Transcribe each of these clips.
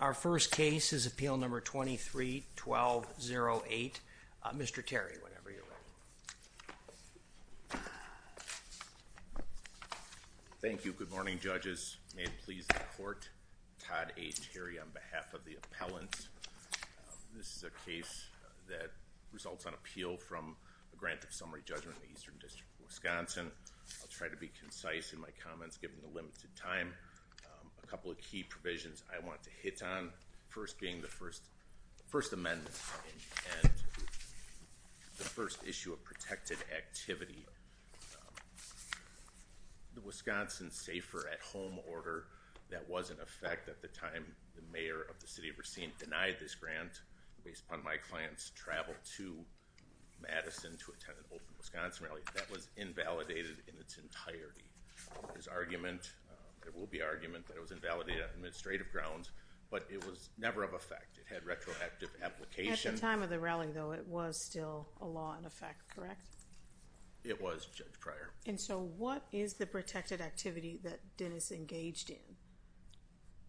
Our first case is appeal number 23-1208. Mr. Terry, whenever you're ready. Thank you. Good morning, judges. May it please the court. Todd A. Terry on behalf of the appellant. This is a case that results on appeal from a grant of summary judgment in the Eastern District of Wisconsin. I'll try to be concise in my comments given the limited time. A couple of key provisions I want to hit on. First being the First Amendment and the first issue of protected activity. The Wisconsin Safer at Home Order that was in effect at the time the mayor of the City of Racine denied this grant based upon my client's travel to Madison to attend an open Wisconsin rally. That was invalidated in its entirety. There will be argument that it was invalidated on administrative grounds, but it was never of effect. It had retroactive application. At the time of the rally, though, it was still a law in effect, correct? It was, Judge Pryor. And so what is the protected activity that Dennis engaged in?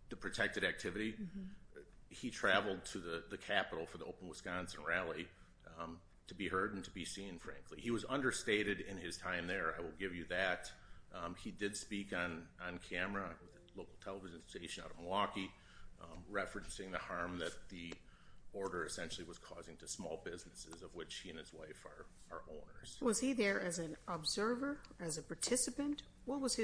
The protected activity? He traveled to the capital for the open Wisconsin rally to be heard and to be seen, frankly. He was understated in his time there. I will give you that. He did speak on camera at a local television station out of Milwaukee, referencing the harm that the order essentially was causing to small businesses of which he and his wife are owners. Was he there as an observer, as a participant? What was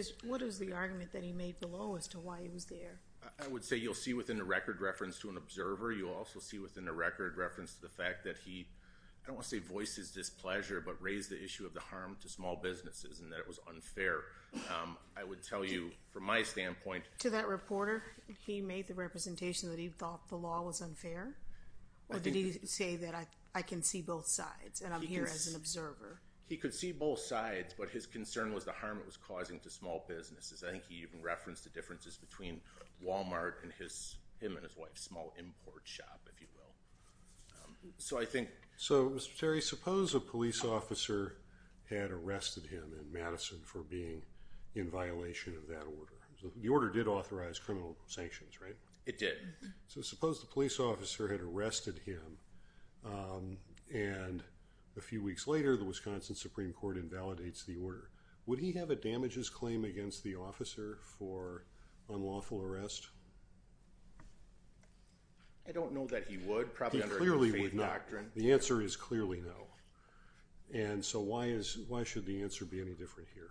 the argument that he made below as to why he was there? I would say you'll see within the record reference to an observer. You'll also see within the record reference to the fact that he, I don't want to say voices displeasure, but raised the issue of the harm to small businesses and that it was unfair. I would tell you from my standpoint. To that reporter, he made the representation that he thought the law was unfair? Or did he say that I can see both sides and I'm here as an observer? He could see both sides, but his concern was the harm it was causing to small businesses. I think he even referenced the differences between Walmart and his, him and his wife's small import shop, if you will. So I think. So Mr. Terry, suppose a police officer had arrested him in Madison for being in violation of that order. The order did authorize criminal sanctions, right? It did. So suppose the police officer had arrested him and a few weeks later, the Wisconsin Supreme Court invalidates the order. Would he have a damages claim against the officer for unlawful arrest? I don't know that he would probably clearly would not. The answer is clearly no. And so why is, why should the answer be any different here?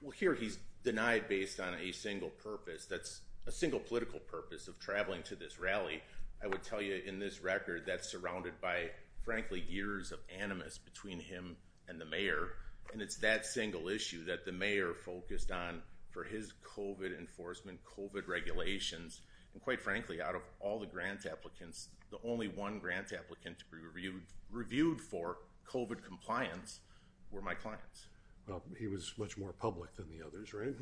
Well, here he's denied based on a single purpose. That's a single political purpose of traveling to this rally. I would tell you in this record that's surrounded by frankly, years of animus between him and the mayor. And it's that single issue that the mayor focused on for his COVID enforcement, COVID regulations. And quite frankly, out of all the grant applicants, the only one grant applicant to be reviewed, reviewed for COVID compliance were my clients. Well, he was much more public than the others, right?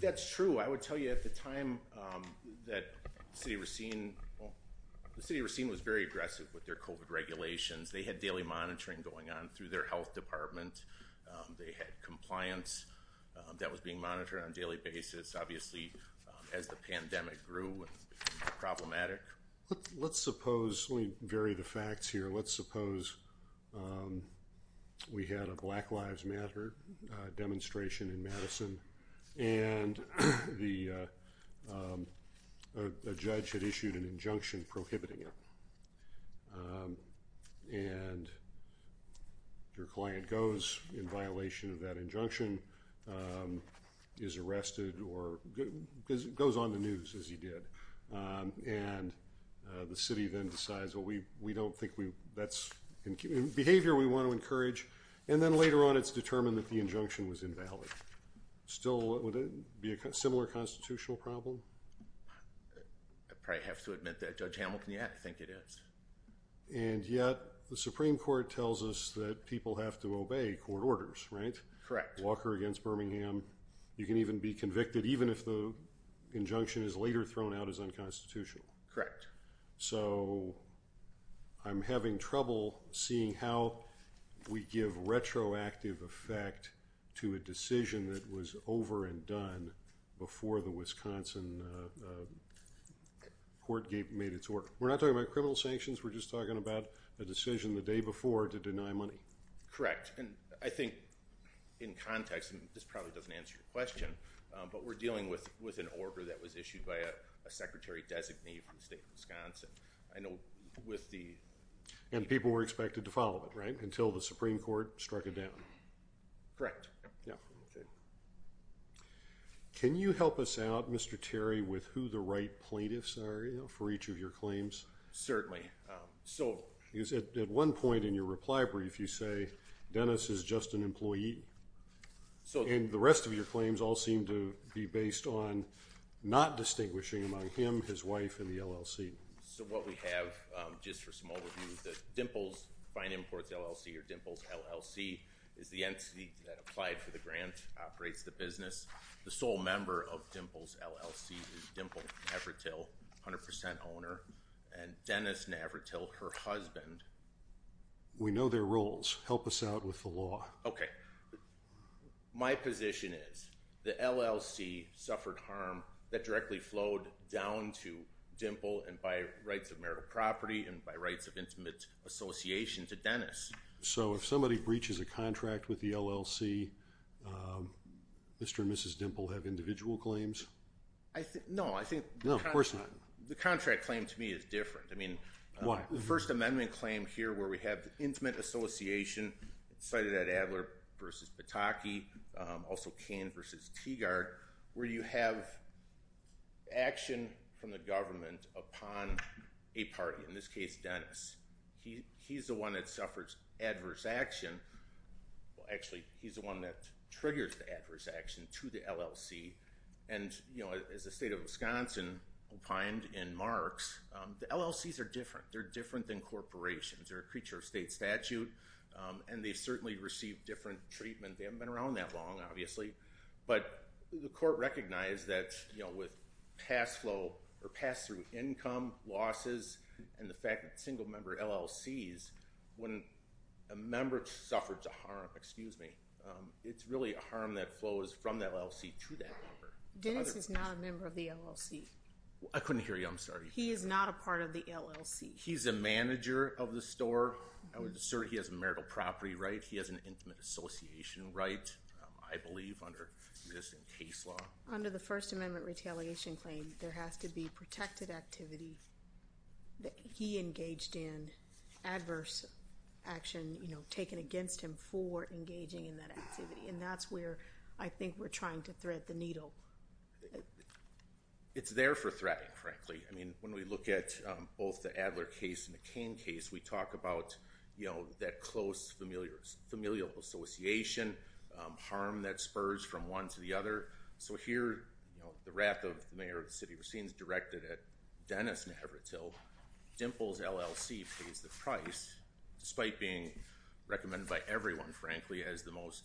That's true. I would tell you at the time that City of Racine, the City of Racine was very aggressive with their COVID regulations. They had daily monitoring going on through their health department. They had compliance that was being monitored on a daily basis. Obviously, as the pandemic grew, it became problematic. Let's suppose, let me vary the facts here. Let's suppose we had a Black Lives Matter demonstration in Madison and the judge had issued an injunction prohibiting it. And your client goes in violation of that injunction, is arrested or goes on the news as he did. And the city then decides, well, we don't think that's behavior we want to encourage. And then later on, it's determined that the injunction was invalid. Still, would it be a similar constitutional problem? I probably have to admit that Judge Hamilton, yeah, I think it is. And yet the Supreme Court tells us that people have to obey court orders, right? Correct. Walker against Birmingham. You can even be convicted even if the injunction is later thrown out as unconstitutional. Correct. So, I'm having trouble seeing how we give retroactive effect to a decision that was over and done before the Wisconsin Court made its order. We're not talking about criminal sanctions. We're just talking about a decision the day before to deny money. Correct. And I think in context, and this probably doesn't answer your question, but we're dealing with an order that was issued by a secretary-designee from the state of Wisconsin. I know with the... And people were expected to follow it, right? Until the Supreme Court struck it down. Correct. Can you help us out, Mr. Terry, with who the right plaintiffs are for each of your claims? Certainly. Because at one point in your reply brief, you say, Dennis is just an employee. And the rest of your claims all seem to be based on not distinguishing among him, his wife, and the LLC. So, what we have, just for some overview, the Dimples Fine Imports LLC or Dimples LLC is the entity that applied for the grant, operates the business. The sole member of Dimples LLC is Dimples Navratil, 100% owner, and Dennis Navratil, her husband. We know their roles. Help us out with the law. Okay. My position is the LLC suffered harm that directly flowed down to Dimple and by rights of marital property and by rights of intimate association to Dennis. So, if somebody breaches a contract with the LLC, Mr. and Mrs. Dimple have individual claims? No, I think... No, of course not. The contract claim, to me, is different. I mean... Why? First amendment claim here where we have intimate association cited at Adler versus Pataki, also Kane versus Teagard, where you have action from the government upon a party, in this case, Dennis. He's the one that suffers adverse action. Actually, he's the one that triggers the adverse action to the LLC. And as the state of Wisconsin opined in marks, the LLCs are different. They're different than corporations. They're a creature of state statute. And they certainly receive different treatment. They haven't been around that long, obviously. But the court recognized that with pass-flow or pass-through income losses and the fact that single-member LLCs, when a member suffered a harm, excuse me, it's really a harm that flows from that LLC to that member. Dennis is not a member of the LLC. I couldn't hear you. I'm sorry. He is not a part of the LLC. He's a manager of the store. I would assert he has a marital property right. He has an intimate association right, I believe, under existing case law. Under the first amendment retaliation claim, there has to be protected activity that he engaged in, adverse action taken against him for engaging in that activity. And that's where I think we're trying to thread the needle. It's there for threading, frankly. I mean, when we look at both the Adler case and the Cain case, we talk about that close familial association, harm that spurs from one to the other. So here, the wrath of the mayor of the city of Racine is directed at Dennis Navratil. Dimples LLC pays the price, despite being recommended by everyone, frankly, as the most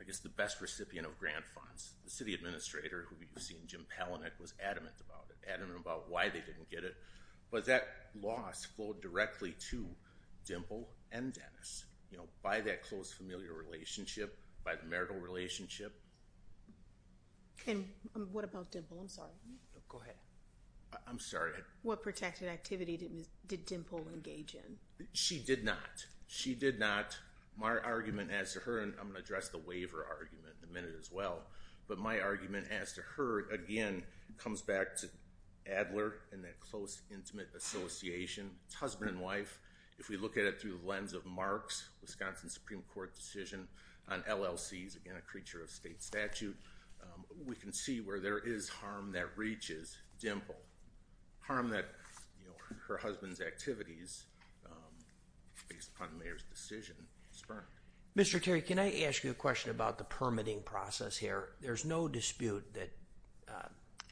I guess the best recipient of grant funds. The city administrator, who you've seen, Jim Palahniuk, was adamant about it, adamant about why they didn't get it. But that loss flowed directly to Dimple and Dennis, you know, by that close familial relationship, by the marital relationship. And what about Dimple? I'm sorry. Go ahead. I'm sorry. What protected activity did Dimple engage in? She did not. She did not. My argument as to her, and I'm going to address the waiver argument in a minute as well, but my argument as to her, again, comes back to Adler and that close, intimate association, husband and wife. If we look at it through the lens of Mark's Wisconsin Supreme Court decision on LLCs, again, a creature of state statute, we can see where there is harm that reaches Dimple. Harm that her husband's activities, based upon the mayor's decision, spurned. Mr. Terry, can I ask you a question about the permitting process here? There's no dispute that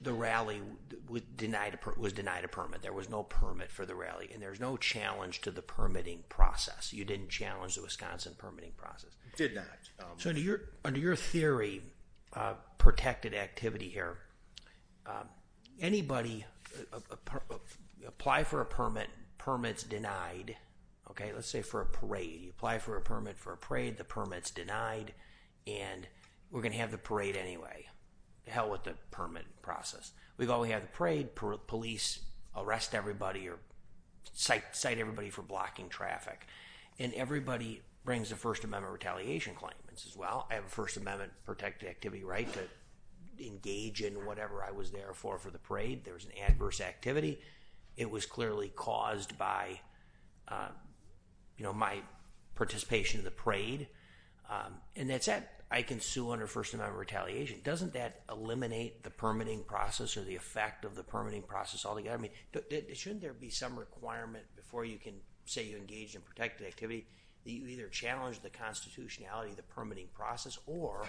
the rally was denied a permit. There was no permit for the rally, and there's no challenge to the permitting process. You didn't challenge the Wisconsin permitting process. Did not. Under your theory, protected activity here, anybody, apply for a permit, permit's denied. Let's say for a parade. You apply for a permit for a parade, the permit's denied, and we're going to have the parade anyway. The hell with the permit process. We've already had the parade. Police arrest everybody or cite everybody for blocking traffic. Everybody brings a First Amendment retaliation claim and says, well, I have a First Amendment protected activity right to engage in whatever I was there for, for the parade. There was an adverse activity. It was clearly caused by my participation in the parade. I can sue under First Amendment retaliation. Doesn't that eliminate the permitting process or the effect of the permitting process altogether? Shouldn't there be some requirement before you can say you engage in protected activity that you either challenge the constitutionality of the permitting process or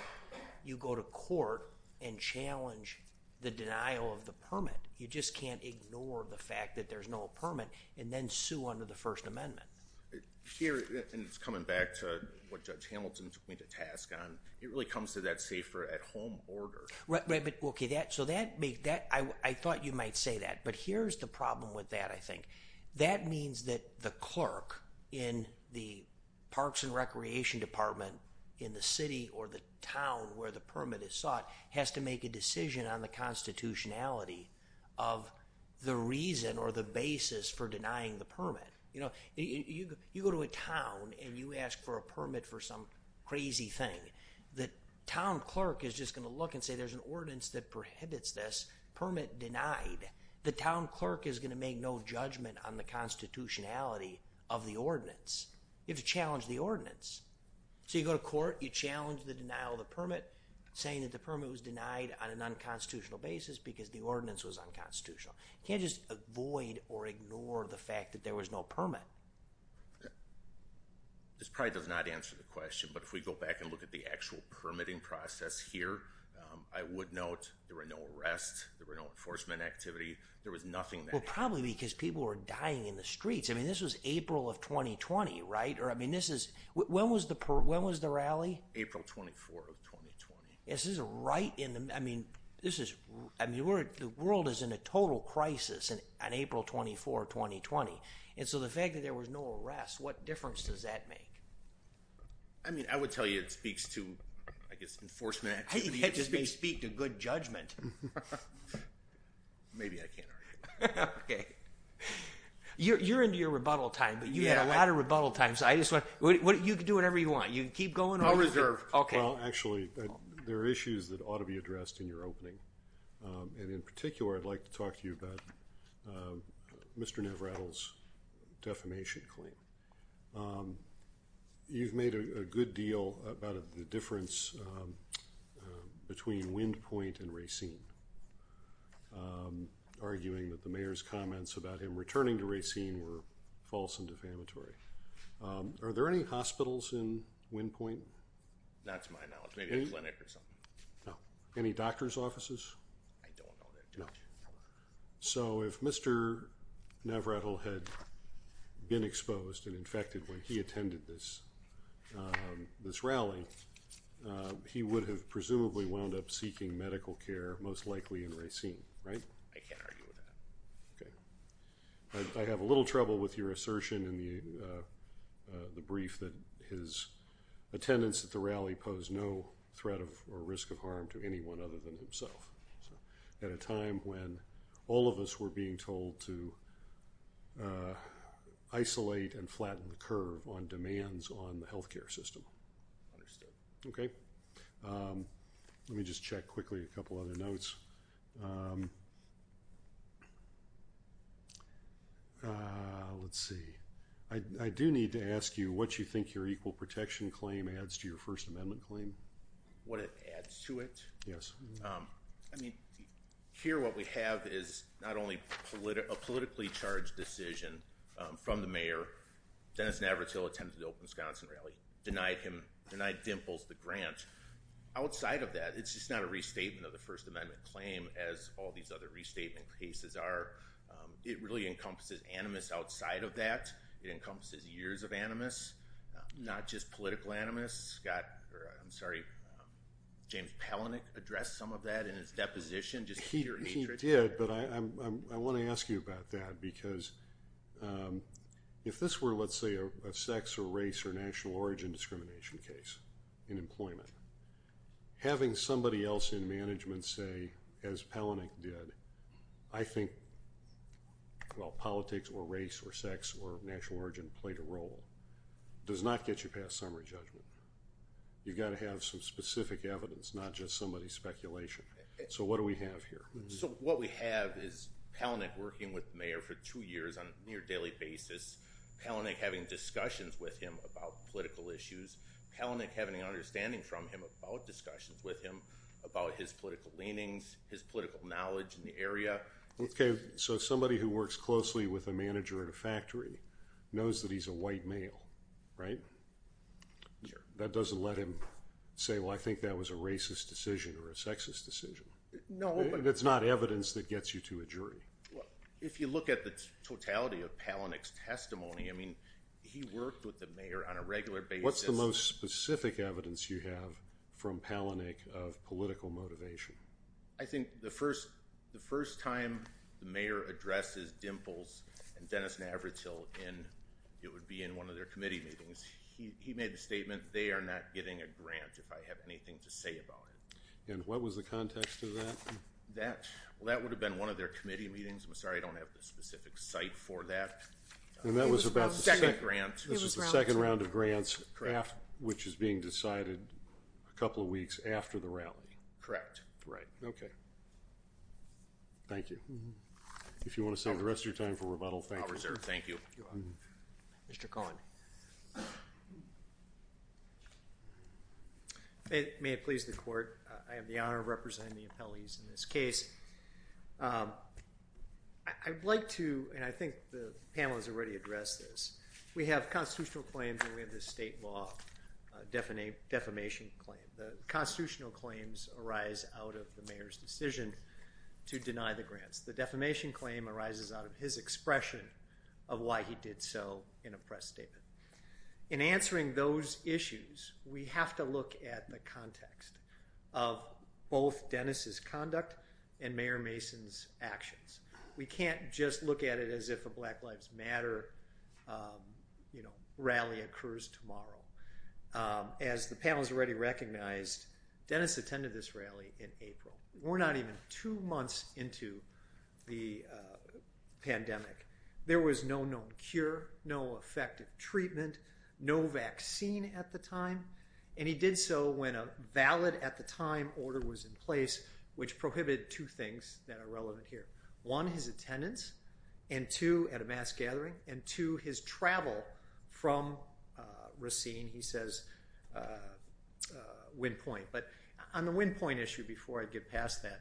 you go to court and challenge the denial of the permit. You just can't ignore the fact that there's no permit and then sue under the First Amendment. Here, and it's coming back to what Judge Hamilton took me to task on. It really comes to that safer at home order. Right, but OK, that so that make that I thought you might say that. But here's the problem with that. I think that means that the clerk in the parks and recreation department in the city or the town where the permit is sought has to make a decision on the constitutionality of the reason or the basis for denying the permit. You know, you go to a town and you ask for a permit for some crazy thing. The town clerk is just going to look and say there's an ordinance that prohibits this permit denied. The town clerk is going to make no judgment on the constitutionality of the ordinance. You have to challenge the ordinance. So you go to court, you challenge the denial of the permit, saying that the permit was denied on an unconstitutional basis because the ordinance was unconstitutional. Can't just avoid or ignore the fact that there was no permit. This probably does not answer the question, but if we go back and look at the actual permitting process here, I would note there were no arrests. There were no enforcement activity. There was nothing. Well, probably because people were dying in the streets. I mean, this was April of 2020, right? Or I mean, this is when was the when was the rally? April 24 of 2020. This is right in the I mean, this is I mean, we're the world is in a total crisis and on April 24, 2020. And so the fact that there was no arrest, what difference does that make? I mean, I would tell you it speaks to, I guess, enforcement. I just may speak to good judgment. Maybe I can't argue. Okay, you're into your rebuttal time, but you had a lot of rebuttal times. I just want you to do whatever you want. You can keep going. I'll reserve. Okay, well, actually, there are issues that ought to be addressed in your opening. And in particular, I'd like to talk to you about Mr. Navratil's defamation claim. You've made a good deal about the difference between Windpoint and Racine, arguing that the mayor's comments about him returning to Racine were false and defamatory. Are there any hospitals in Windpoint? That's my knowledge, maybe a clinic or something. No. Any doctor's offices? I don't know that. No. So if Mr. Navratil had been exposed and infected when he attended this rally, he would have presumably wound up seeking medical care, most likely in Racine, right? I can't argue with that. Okay. I have a little trouble with your assertion in the brief that his attendance at the rally posed no threat or risk of harm to anyone other than himself. So at a time when all of us were being told to isolate and flatten the curve on demands on the health care system. Okay. Let me just check quickly a couple other notes. Let's see. I do need to ask you what you think your equal protection claim adds to your First Amendment claim. What it adds to it? Yes. I mean, here what we have is not only a politically charged decision from the mayor, Dennis Navratil attended the Open Wisconsin Rally, denied him, denied Dimples the grant. Outside of that, it's just not a restatement of the First Amendment claim as all these other restatement cases are. It really encompasses animus outside of that. It encompasses years of animus, not just political animus. I'm sorry, James Palahniuk addressed some of that in his deposition. He did, but I want to ask you about that because if this were, let's say, a sex or race or national origin discrimination case in employment, having somebody else in management say, as well, politics or race or sex or national origin played a role, does not get you past summary judgment. You've got to have some specific evidence, not just somebody's speculation. So what do we have here? So what we have is Palahniuk working with the mayor for two years on a near daily basis, Palahniuk having discussions with him about political issues, Palahniuk having an understanding from him about discussions with him about his political leanings, his political knowledge in the area. So somebody who works closely with a manager at a factory knows that he's a white male, right? That doesn't let him say, well, I think that was a racist decision or a sexist decision. It's not evidence that gets you to a jury. If you look at the totality of Palahniuk's testimony, I mean, he worked with the mayor on a regular basis. What's the most specific evidence you have from Palahniuk of political motivation? I think the first time the mayor addresses Dimples and Dennis Navratil in, it would be in one of their committee meetings, he made the statement, they are not getting a grant if I have anything to say about it. And what was the context of that? Well, that would have been one of their committee meetings. I'm sorry, I don't have the specific site for that. And that was about the second round of grants, which is being decided a couple of weeks after the rally. Correct. Okay. Thank you. If you want to save the rest of your time for rebuttal, thank you. I'll reserve. Thank you. Mr. Cohen. May it please the court. I have the honor of representing the appellees in this case. I'd like to, and I think the panel has already addressed this. We have constitutional claims and we have the state law defamation claim. The constitutional claims arise out of the mayor's decision to deny the grants. The defamation claim arises out of his expression of why he did so in a press statement. In answering those issues, we have to look at the context of both Dennis's conduct and Mayor Mason's actions. We can't just look at it as if a Black Lives Matter rally occurs tomorrow. As the panel has already recognized, Dennis attended this rally in April. We're not even two months into the pandemic. There was no known cure, no effective treatment, no vaccine at the time. And he did so when a valid at the time order was in place, which prohibited two things that are relevant here. One, his attendance. And two, at a mass gathering. And two, his travel from Racine, he says, wind point. But on the wind point issue, before I get past that,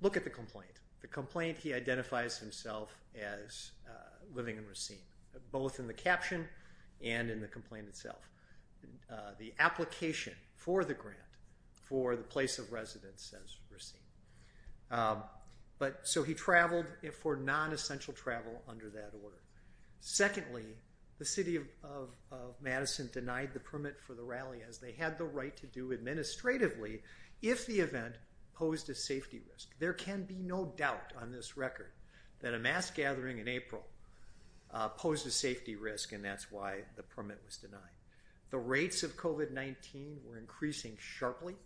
look at the complaint. The complaint, he identifies himself as living in Racine. Both in the caption and in the complaint itself. But so he traveled for non-essential travel under that order. Secondly, the city of Madison denied the permit for the rally as they had the right to do administratively if the event posed a safety risk. There can be no doubt on this record that a mass gathering in April posed a safety risk and that's why the permit was denied. The rates of COVID-19 were increasing sharply.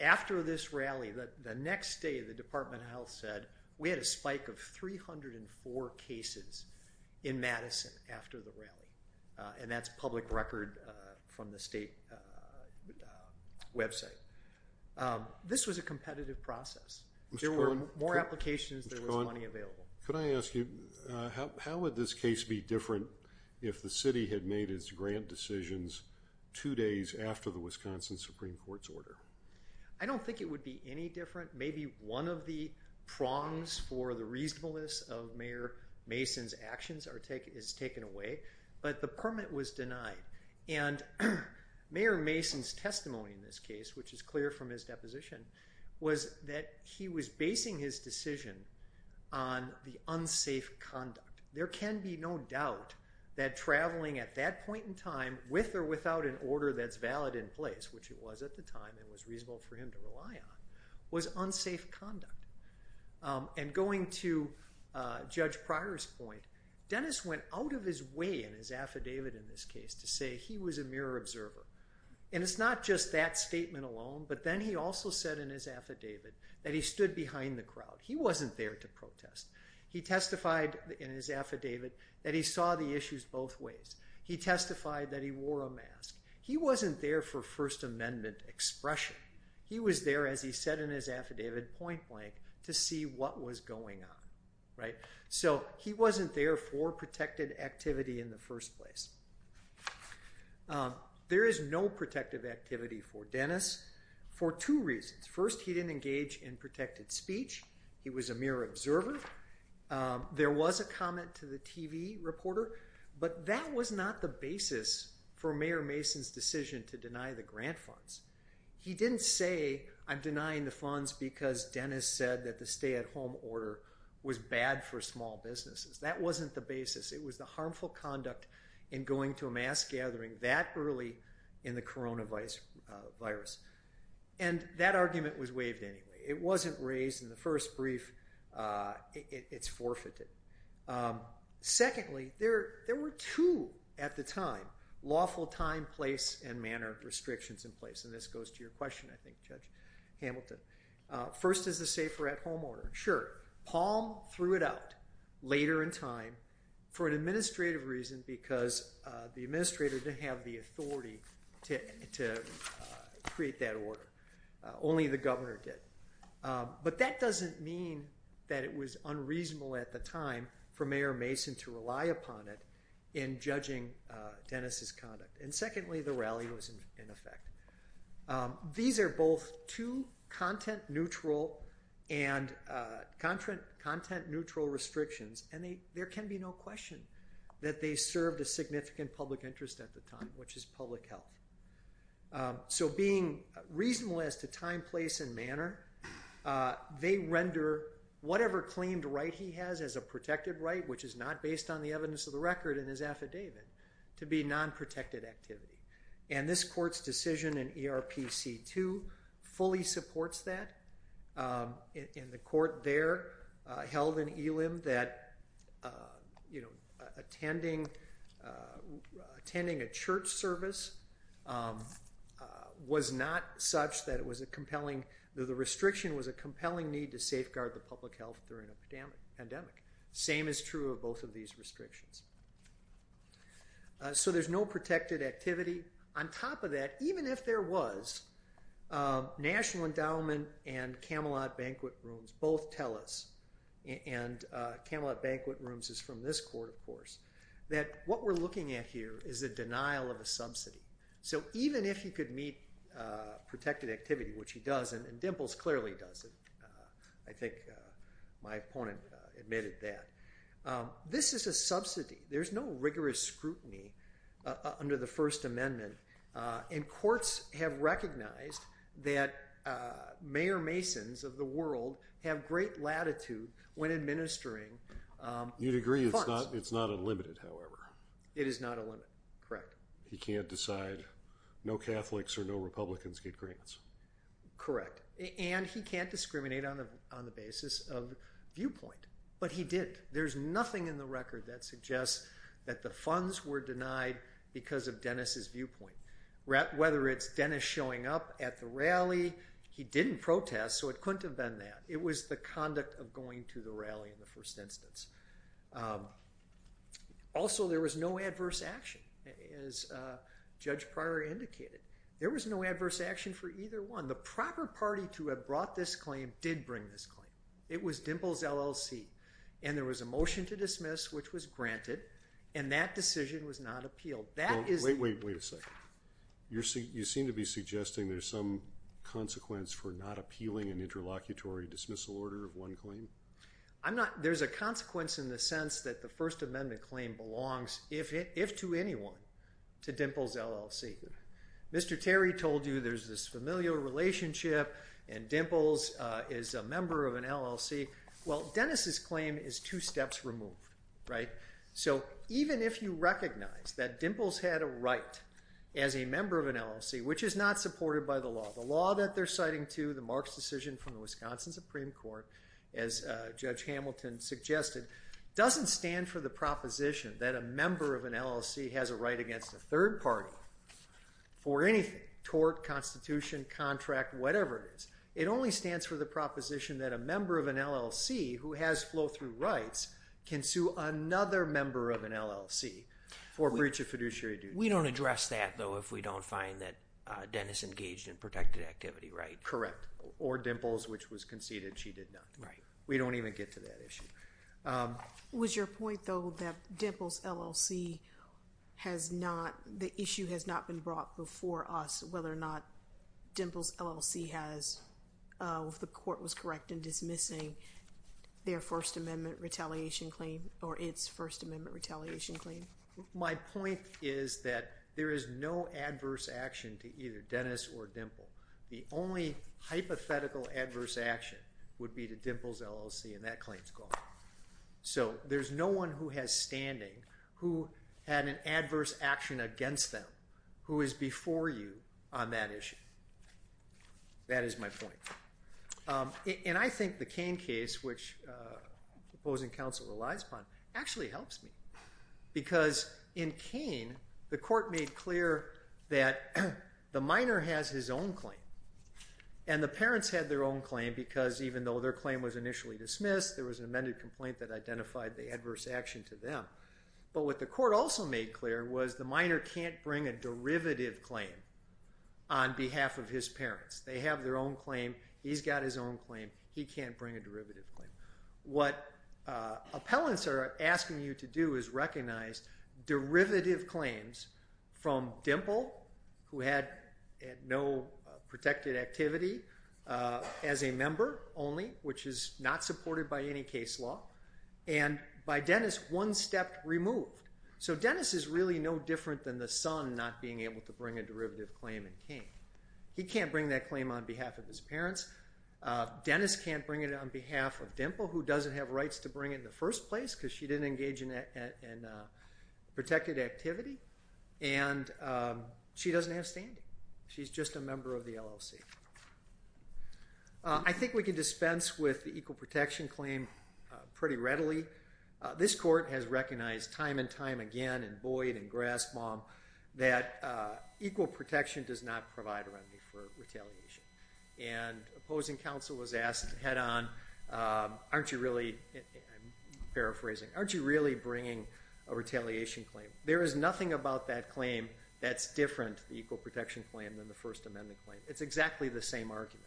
After this rally, the next day the Department of Health said we had a spike of 304 cases in Madison after the rally. And that's public record from the state website. This was a competitive process. There were more applications, there was money available. Mr. Cohen, could I ask you, how would this case be different if the city had made its decisions two days after the Wisconsin Supreme Court's order? I don't think it would be any different. Maybe one of the prongs for the reasonableness of Mayor Mason's actions is taken away. But the permit was denied. And Mayor Mason's testimony in this case, which is clear from his deposition, was that he was basing his decision on the unsafe conduct. There can be no doubt that traveling at that point in time with or without an order that's valid in place, which it was at the time and was reasonable for him to rely on, was unsafe conduct. And going to Judge Pryor's point, Dennis went out of his way in his affidavit in this case to say he was a mirror observer. And it's not just that statement alone, but then he also said in his affidavit that he stood behind the crowd. He wasn't there to protest. He testified in his affidavit that he saw the issues both ways. He testified that he wore a mask. He wasn't there for First Amendment expression. He was there, as he said in his affidavit, point blank to see what was going on. So he wasn't there for protected activity in the first place. There is no protective activity for Dennis for two reasons. First, he didn't engage in protected speech. He was a mirror observer. There was a comment to the TV reporter. But that was not the basis for Mayor Mason's decision to deny the grant funds. He didn't say, I'm denying the funds because Dennis said that the stay-at-home order was bad for small businesses. That wasn't the basis. It was the harmful conduct in going to a mass gathering that early in the coronavirus. And that argument was waived anyway. It wasn't raised in the first brief. It's forfeited. Secondly, there were two at the time, lawful time, place, and manner restrictions in place. And this goes to your question, I think, Judge Hamilton. First is the safer-at-home order. Sure. Palm threw it out later in time for an administrative reason because the administrator didn't have the authority to create that order. Only the governor did. But that doesn't mean that it was unreasonable at the time for Mayor Mason to rely upon it in judging Dennis's conduct. And secondly, the rally was in effect. These are both two content-neutral and content-neutral restrictions. And there can be no question that they served a significant public interest at the time, which is public health. So being reasonable as to time, place, and manner, they render whatever claimed right he has as a protected right, which is not based on the evidence of the record in his affidavit, to be non-protected activity. And this court's decision in ERPC 2 fully supports that. And the court there held in Elim that attending a church service was not such that it was a compelling—the restriction was a compelling need to safeguard the public health during a pandemic. Same is true of both of these restrictions. So there's no protected activity. On top of that, even if there was, National Endowment and Camelot Banquet Rooms both tell us—and Camelot Banquet Rooms is from this court, of course—that what we're looking at here is a denial of a subsidy. So even if he could meet protected activity, which he does, and Dimples clearly does it—I think my opponent admitted that—this is a subsidy. There's no rigorous scrutiny under the First Amendment, and courts have recognized that mayor-masons of the world have great latitude when administering funds. You'd agree it's not unlimited, however. It is not unlimited, correct. He can't decide—no Catholics or no Republicans get grants. Correct. And he can't discriminate on the basis of viewpoint. But he did. There's nothing in the record that suggests that the funds were denied because of Dennis's viewpoint, whether it's Dennis showing up at the rally. He didn't protest, so it couldn't have been that. It was the conduct of going to the rally in the first instance. Also, there was no adverse action, as Judge Pryor indicated. There was no adverse action for either one. The proper party to have brought this claim did bring this claim. It was Dimples LLC. And there was a motion to dismiss, which was granted, and that decision was not appealed. That is— Wait, wait, wait a second. You seem to be suggesting there's some consequence for not appealing an interlocutory dismissal order of one claim? There's a consequence in the sense that the First Amendment claim belongs, if to anyone, to Dimples LLC. Mr. Terry told you there's this familial relationship, and Dimples is a member of an LLC. Well, Dennis's claim is two steps removed, right? So even if you recognize that Dimples had a right as a member of an LLC, which is not supported by the law—the law that they're citing, too, the Marks decision from the Wisconsin Supreme Court, as Judge Hamilton suggested, doesn't stand for the proposition that a member of an LLC has a right against a third party for anything—tort, constitution, contract, whatever it is. It only stands for the proposition that a member of an LLC who has flow-through rights can sue another member of an LLC for breach of fiduciary duty. We don't address that, though, if we don't find that Dennis engaged in protected activity, right? Correct. Or Dimples, which was conceded she did not. Right. We don't even get to that issue. Was your point, though, that Dimples LLC has not—the issue has not been brought before us whether or not Dimples LLC has, if the court was correct in dismissing their First Amendment retaliation claim or its First Amendment retaliation claim? My point is that there is no adverse action to either Dennis or Dimples. The only hypothetical adverse action would be to Dimples LLC, and that claim's gone. So there's no one who has standing who had an adverse action against them who is before you on that issue. That is my point. And I think the Cain case, which the opposing counsel relies upon, actually helps me. Because in Cain, the court made clear that the minor has his own claim, and the parents had their own claim because even though their claim was initially dismissed, there was an accurate complaint that identified the adverse action to them. But what the court also made clear was the minor can't bring a derivative claim on behalf of his parents. They have their own claim. He's got his own claim. He can't bring a derivative claim. What appellants are asking you to do is recognize derivative claims from Dimple, who had no protected activity as a member only, which is not supported by any case law, and by Dennis, one step removed. So Dennis is really no different than the son not being able to bring a derivative claim in Cain. He can't bring that claim on behalf of his parents. Dennis can't bring it on behalf of Dimple, who doesn't have rights to bring it in the first place because she didn't engage in protected activity. And she doesn't have standing. She's just a member of the LLC. I think we can dispense with the equal protection claim pretty readily. This court has recognized time and time again in Boyd and Grasbaum that equal protection does not provide a remedy for retaliation. And opposing counsel was asked head on, aren't you really, I'm paraphrasing, aren't you really bringing a retaliation claim? There is nothing about that claim that's different, the equal protection claim, than the First Amendment claim. It's exactly the same argument.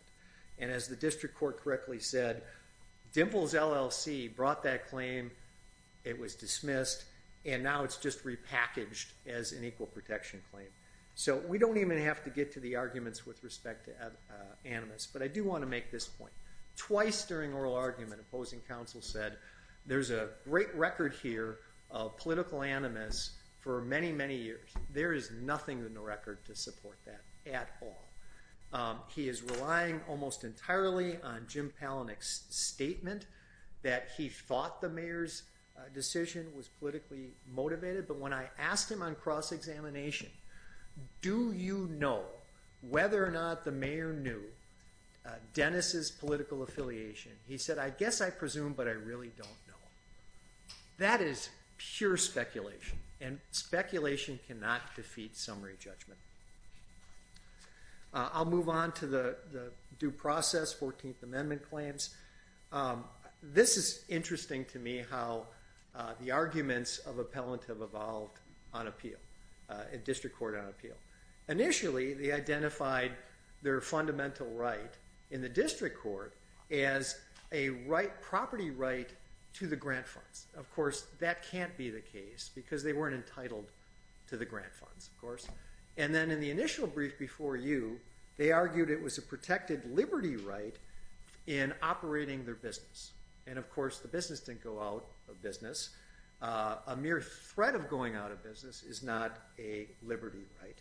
And as the district court correctly said, Dimple's LLC brought that claim, it was dismissed, and now it's just repackaged as an equal protection claim. So we don't even have to get to the arguments with respect to animus. But I do want to make this point. Twice during oral argument, opposing counsel said, there's a great record here of political animus for many, many years. There is nothing in the record to support that at all. He is relying almost entirely on Jim Palahniuk's statement that he thought the mayor's decision was politically motivated. But when I asked him on cross-examination, do you know whether or not the mayor knew Dennis's political affiliation? He said, I guess I presume, but I really don't know. That is pure speculation. And speculation cannot defeat summary judgment. I'll move on to the due process, 14th Amendment claims. This is interesting to me, how the arguments of appellant have evolved on appeal, district court on appeal. Initially, they identified their fundamental right in the district court as a property right to the grant funds. Of course, that can't be the case, because they weren't entitled to the grant funds, of course. And then in the initial brief before you, they argued it was a protected liberty right in operating their business. And of course, the business didn't go out of business. A mere threat of going out of business is not a liberty right.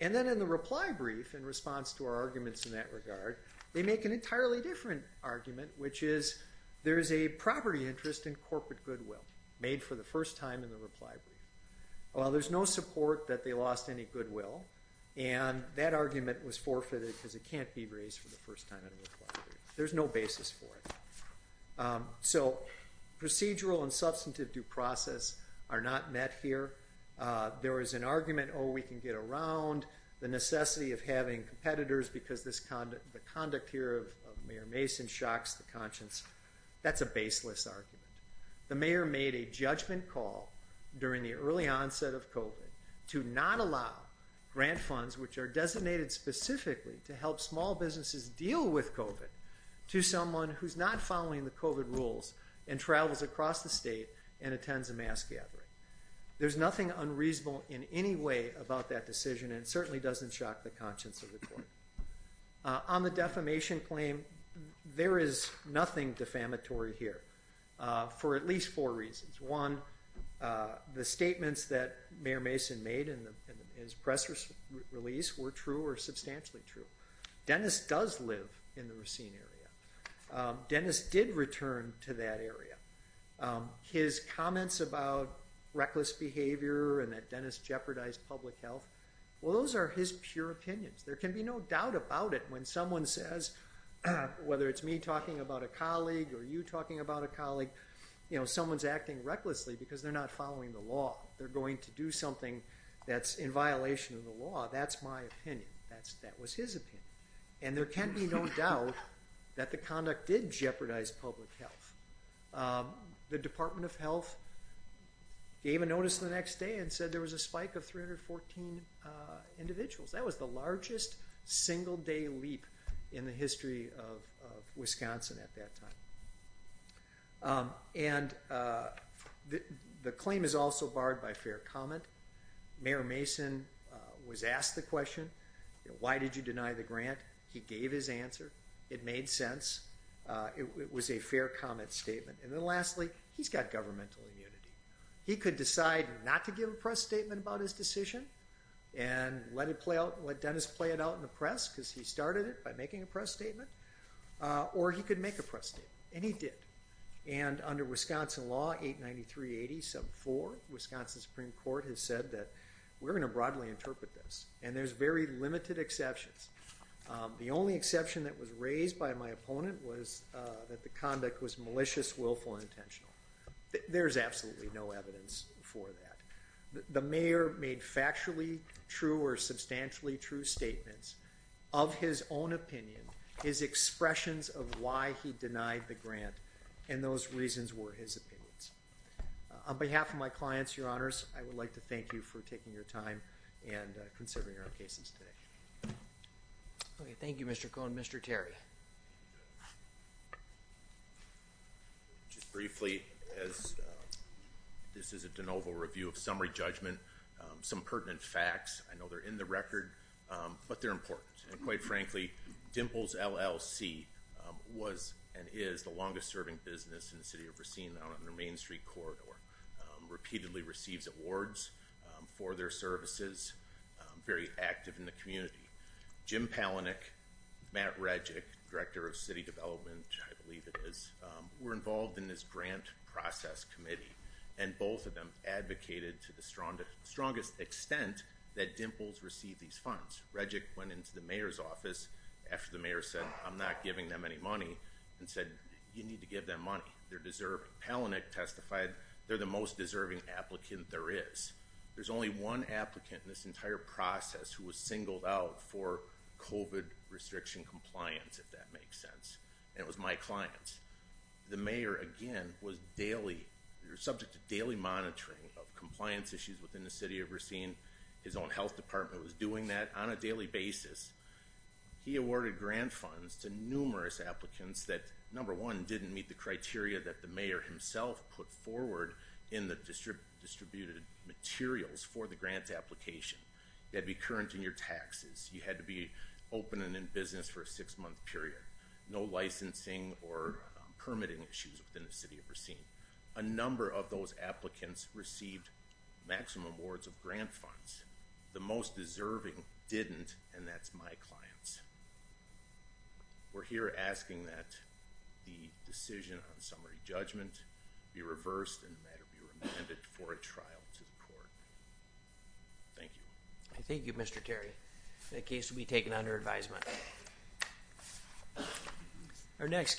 And then in the reply brief, in response to our arguments in that regard, they make an property interest in corporate goodwill, made for the first time in the reply brief. Well, there's no support that they lost any goodwill. And that argument was forfeited, because it can't be raised for the first time in a reply brief. There's no basis for it. So procedural and substantive due process are not met here. There is an argument, oh, we can get around the necessity of having competitors, because the conduct here of Mayor Mason shocks the conscience. That's a baseless argument. The mayor made a judgment call during the early onset of COVID to not allow grant funds, which are designated specifically to help small businesses deal with COVID, to someone who's not following the COVID rules and travels across the state and attends a mass gathering. There's nothing unreasonable in any way about that decision. And it certainly doesn't shock the conscience of the court. On the defamation claim, there is nothing defamatory here, for at least four reasons. One, the statements that Mayor Mason made in his press release were true or substantially true. Dennis does live in the Racine area. Dennis did return to that area. His comments about reckless behavior and that Dennis jeopardized public health, well, those are his pure opinions. There can be no doubt about it when someone says, whether it's me talking about a colleague or you talking about a colleague, you know, someone's acting recklessly because they're not following the law. They're going to do something that's in violation of the law. That's my opinion. That was his opinion. And there can be no doubt that the conduct did jeopardize public health. The Department of Health gave a notice the next day and said there was a spike of 314 individuals. That was the largest single-day leap in the history of Wisconsin at that time. And the claim is also barred by fair comment. Mayor Mason was asked the question, why did you deny the grant? He gave his answer. It made sense. It was a fair comment statement. And then lastly, he's got governmental immunity. He could decide not to give a press statement about his decision and let Dennis play it out in the press because he started it by making a press statement. Or he could make a press statement. And he did. And under Wisconsin law, 893.80.74, Wisconsin Supreme Court has said that we're going to broadly interpret this. And there's very limited exceptions. The only exception that was raised by my opponent was that the conduct was malicious, willful, and intentional. There's absolutely no evidence for that. The mayor made factually true or substantially true statements of his own opinion, his expressions of why he denied the grant. And those reasons were his opinions. On behalf of my clients, your honors, I would like to thank you for taking your time and considering our cases today. Okay, thank you, Mr. Cohen. Mr. Terry. Just briefly, as this is a de novo review of summary judgment, some pertinent facts. I know they're in the record, but they're important. And quite frankly, Dimples LLC was and is the longest serving business in the city of Racine out on the Main Street Corridor. Repeatedly receives awards for their services. Very active in the community. Jim Palahniuk, Matt Redjick, Director of City Development, I believe it is, were involved in this grant process committee. And both of them advocated to the strongest extent that Dimples received these funds. Redjick went into the mayor's office after the mayor said, I'm not giving them any money and said, you need to give them money. They're deserving. Palahniuk testified they're the most deserving applicant there is. There's only one applicant in this entire process who was singled out for COVID restriction compliance, if that makes sense. And it was my clients. The mayor, again, was daily, you're subject to daily monitoring of compliance issues within the city of Racine. His own health department was doing that on a daily basis. He awarded grant funds to numerous applicants that, number one, didn't meet the criteria that the mayor himself put forward in the distributed materials for the grant application. They'd be current in your taxes. You had to be open and in business for a six-month period. No licensing or permitting issues within the city of Racine. A number of those applicants received maximum awards of grant funds. The most deserving didn't, and that's my clients. We're here asking that the decision on summary judgment be reversed and that it be remanded for a trial to the court. Thank you. I thank you, Mr. Terry. That case will be taken under advisement.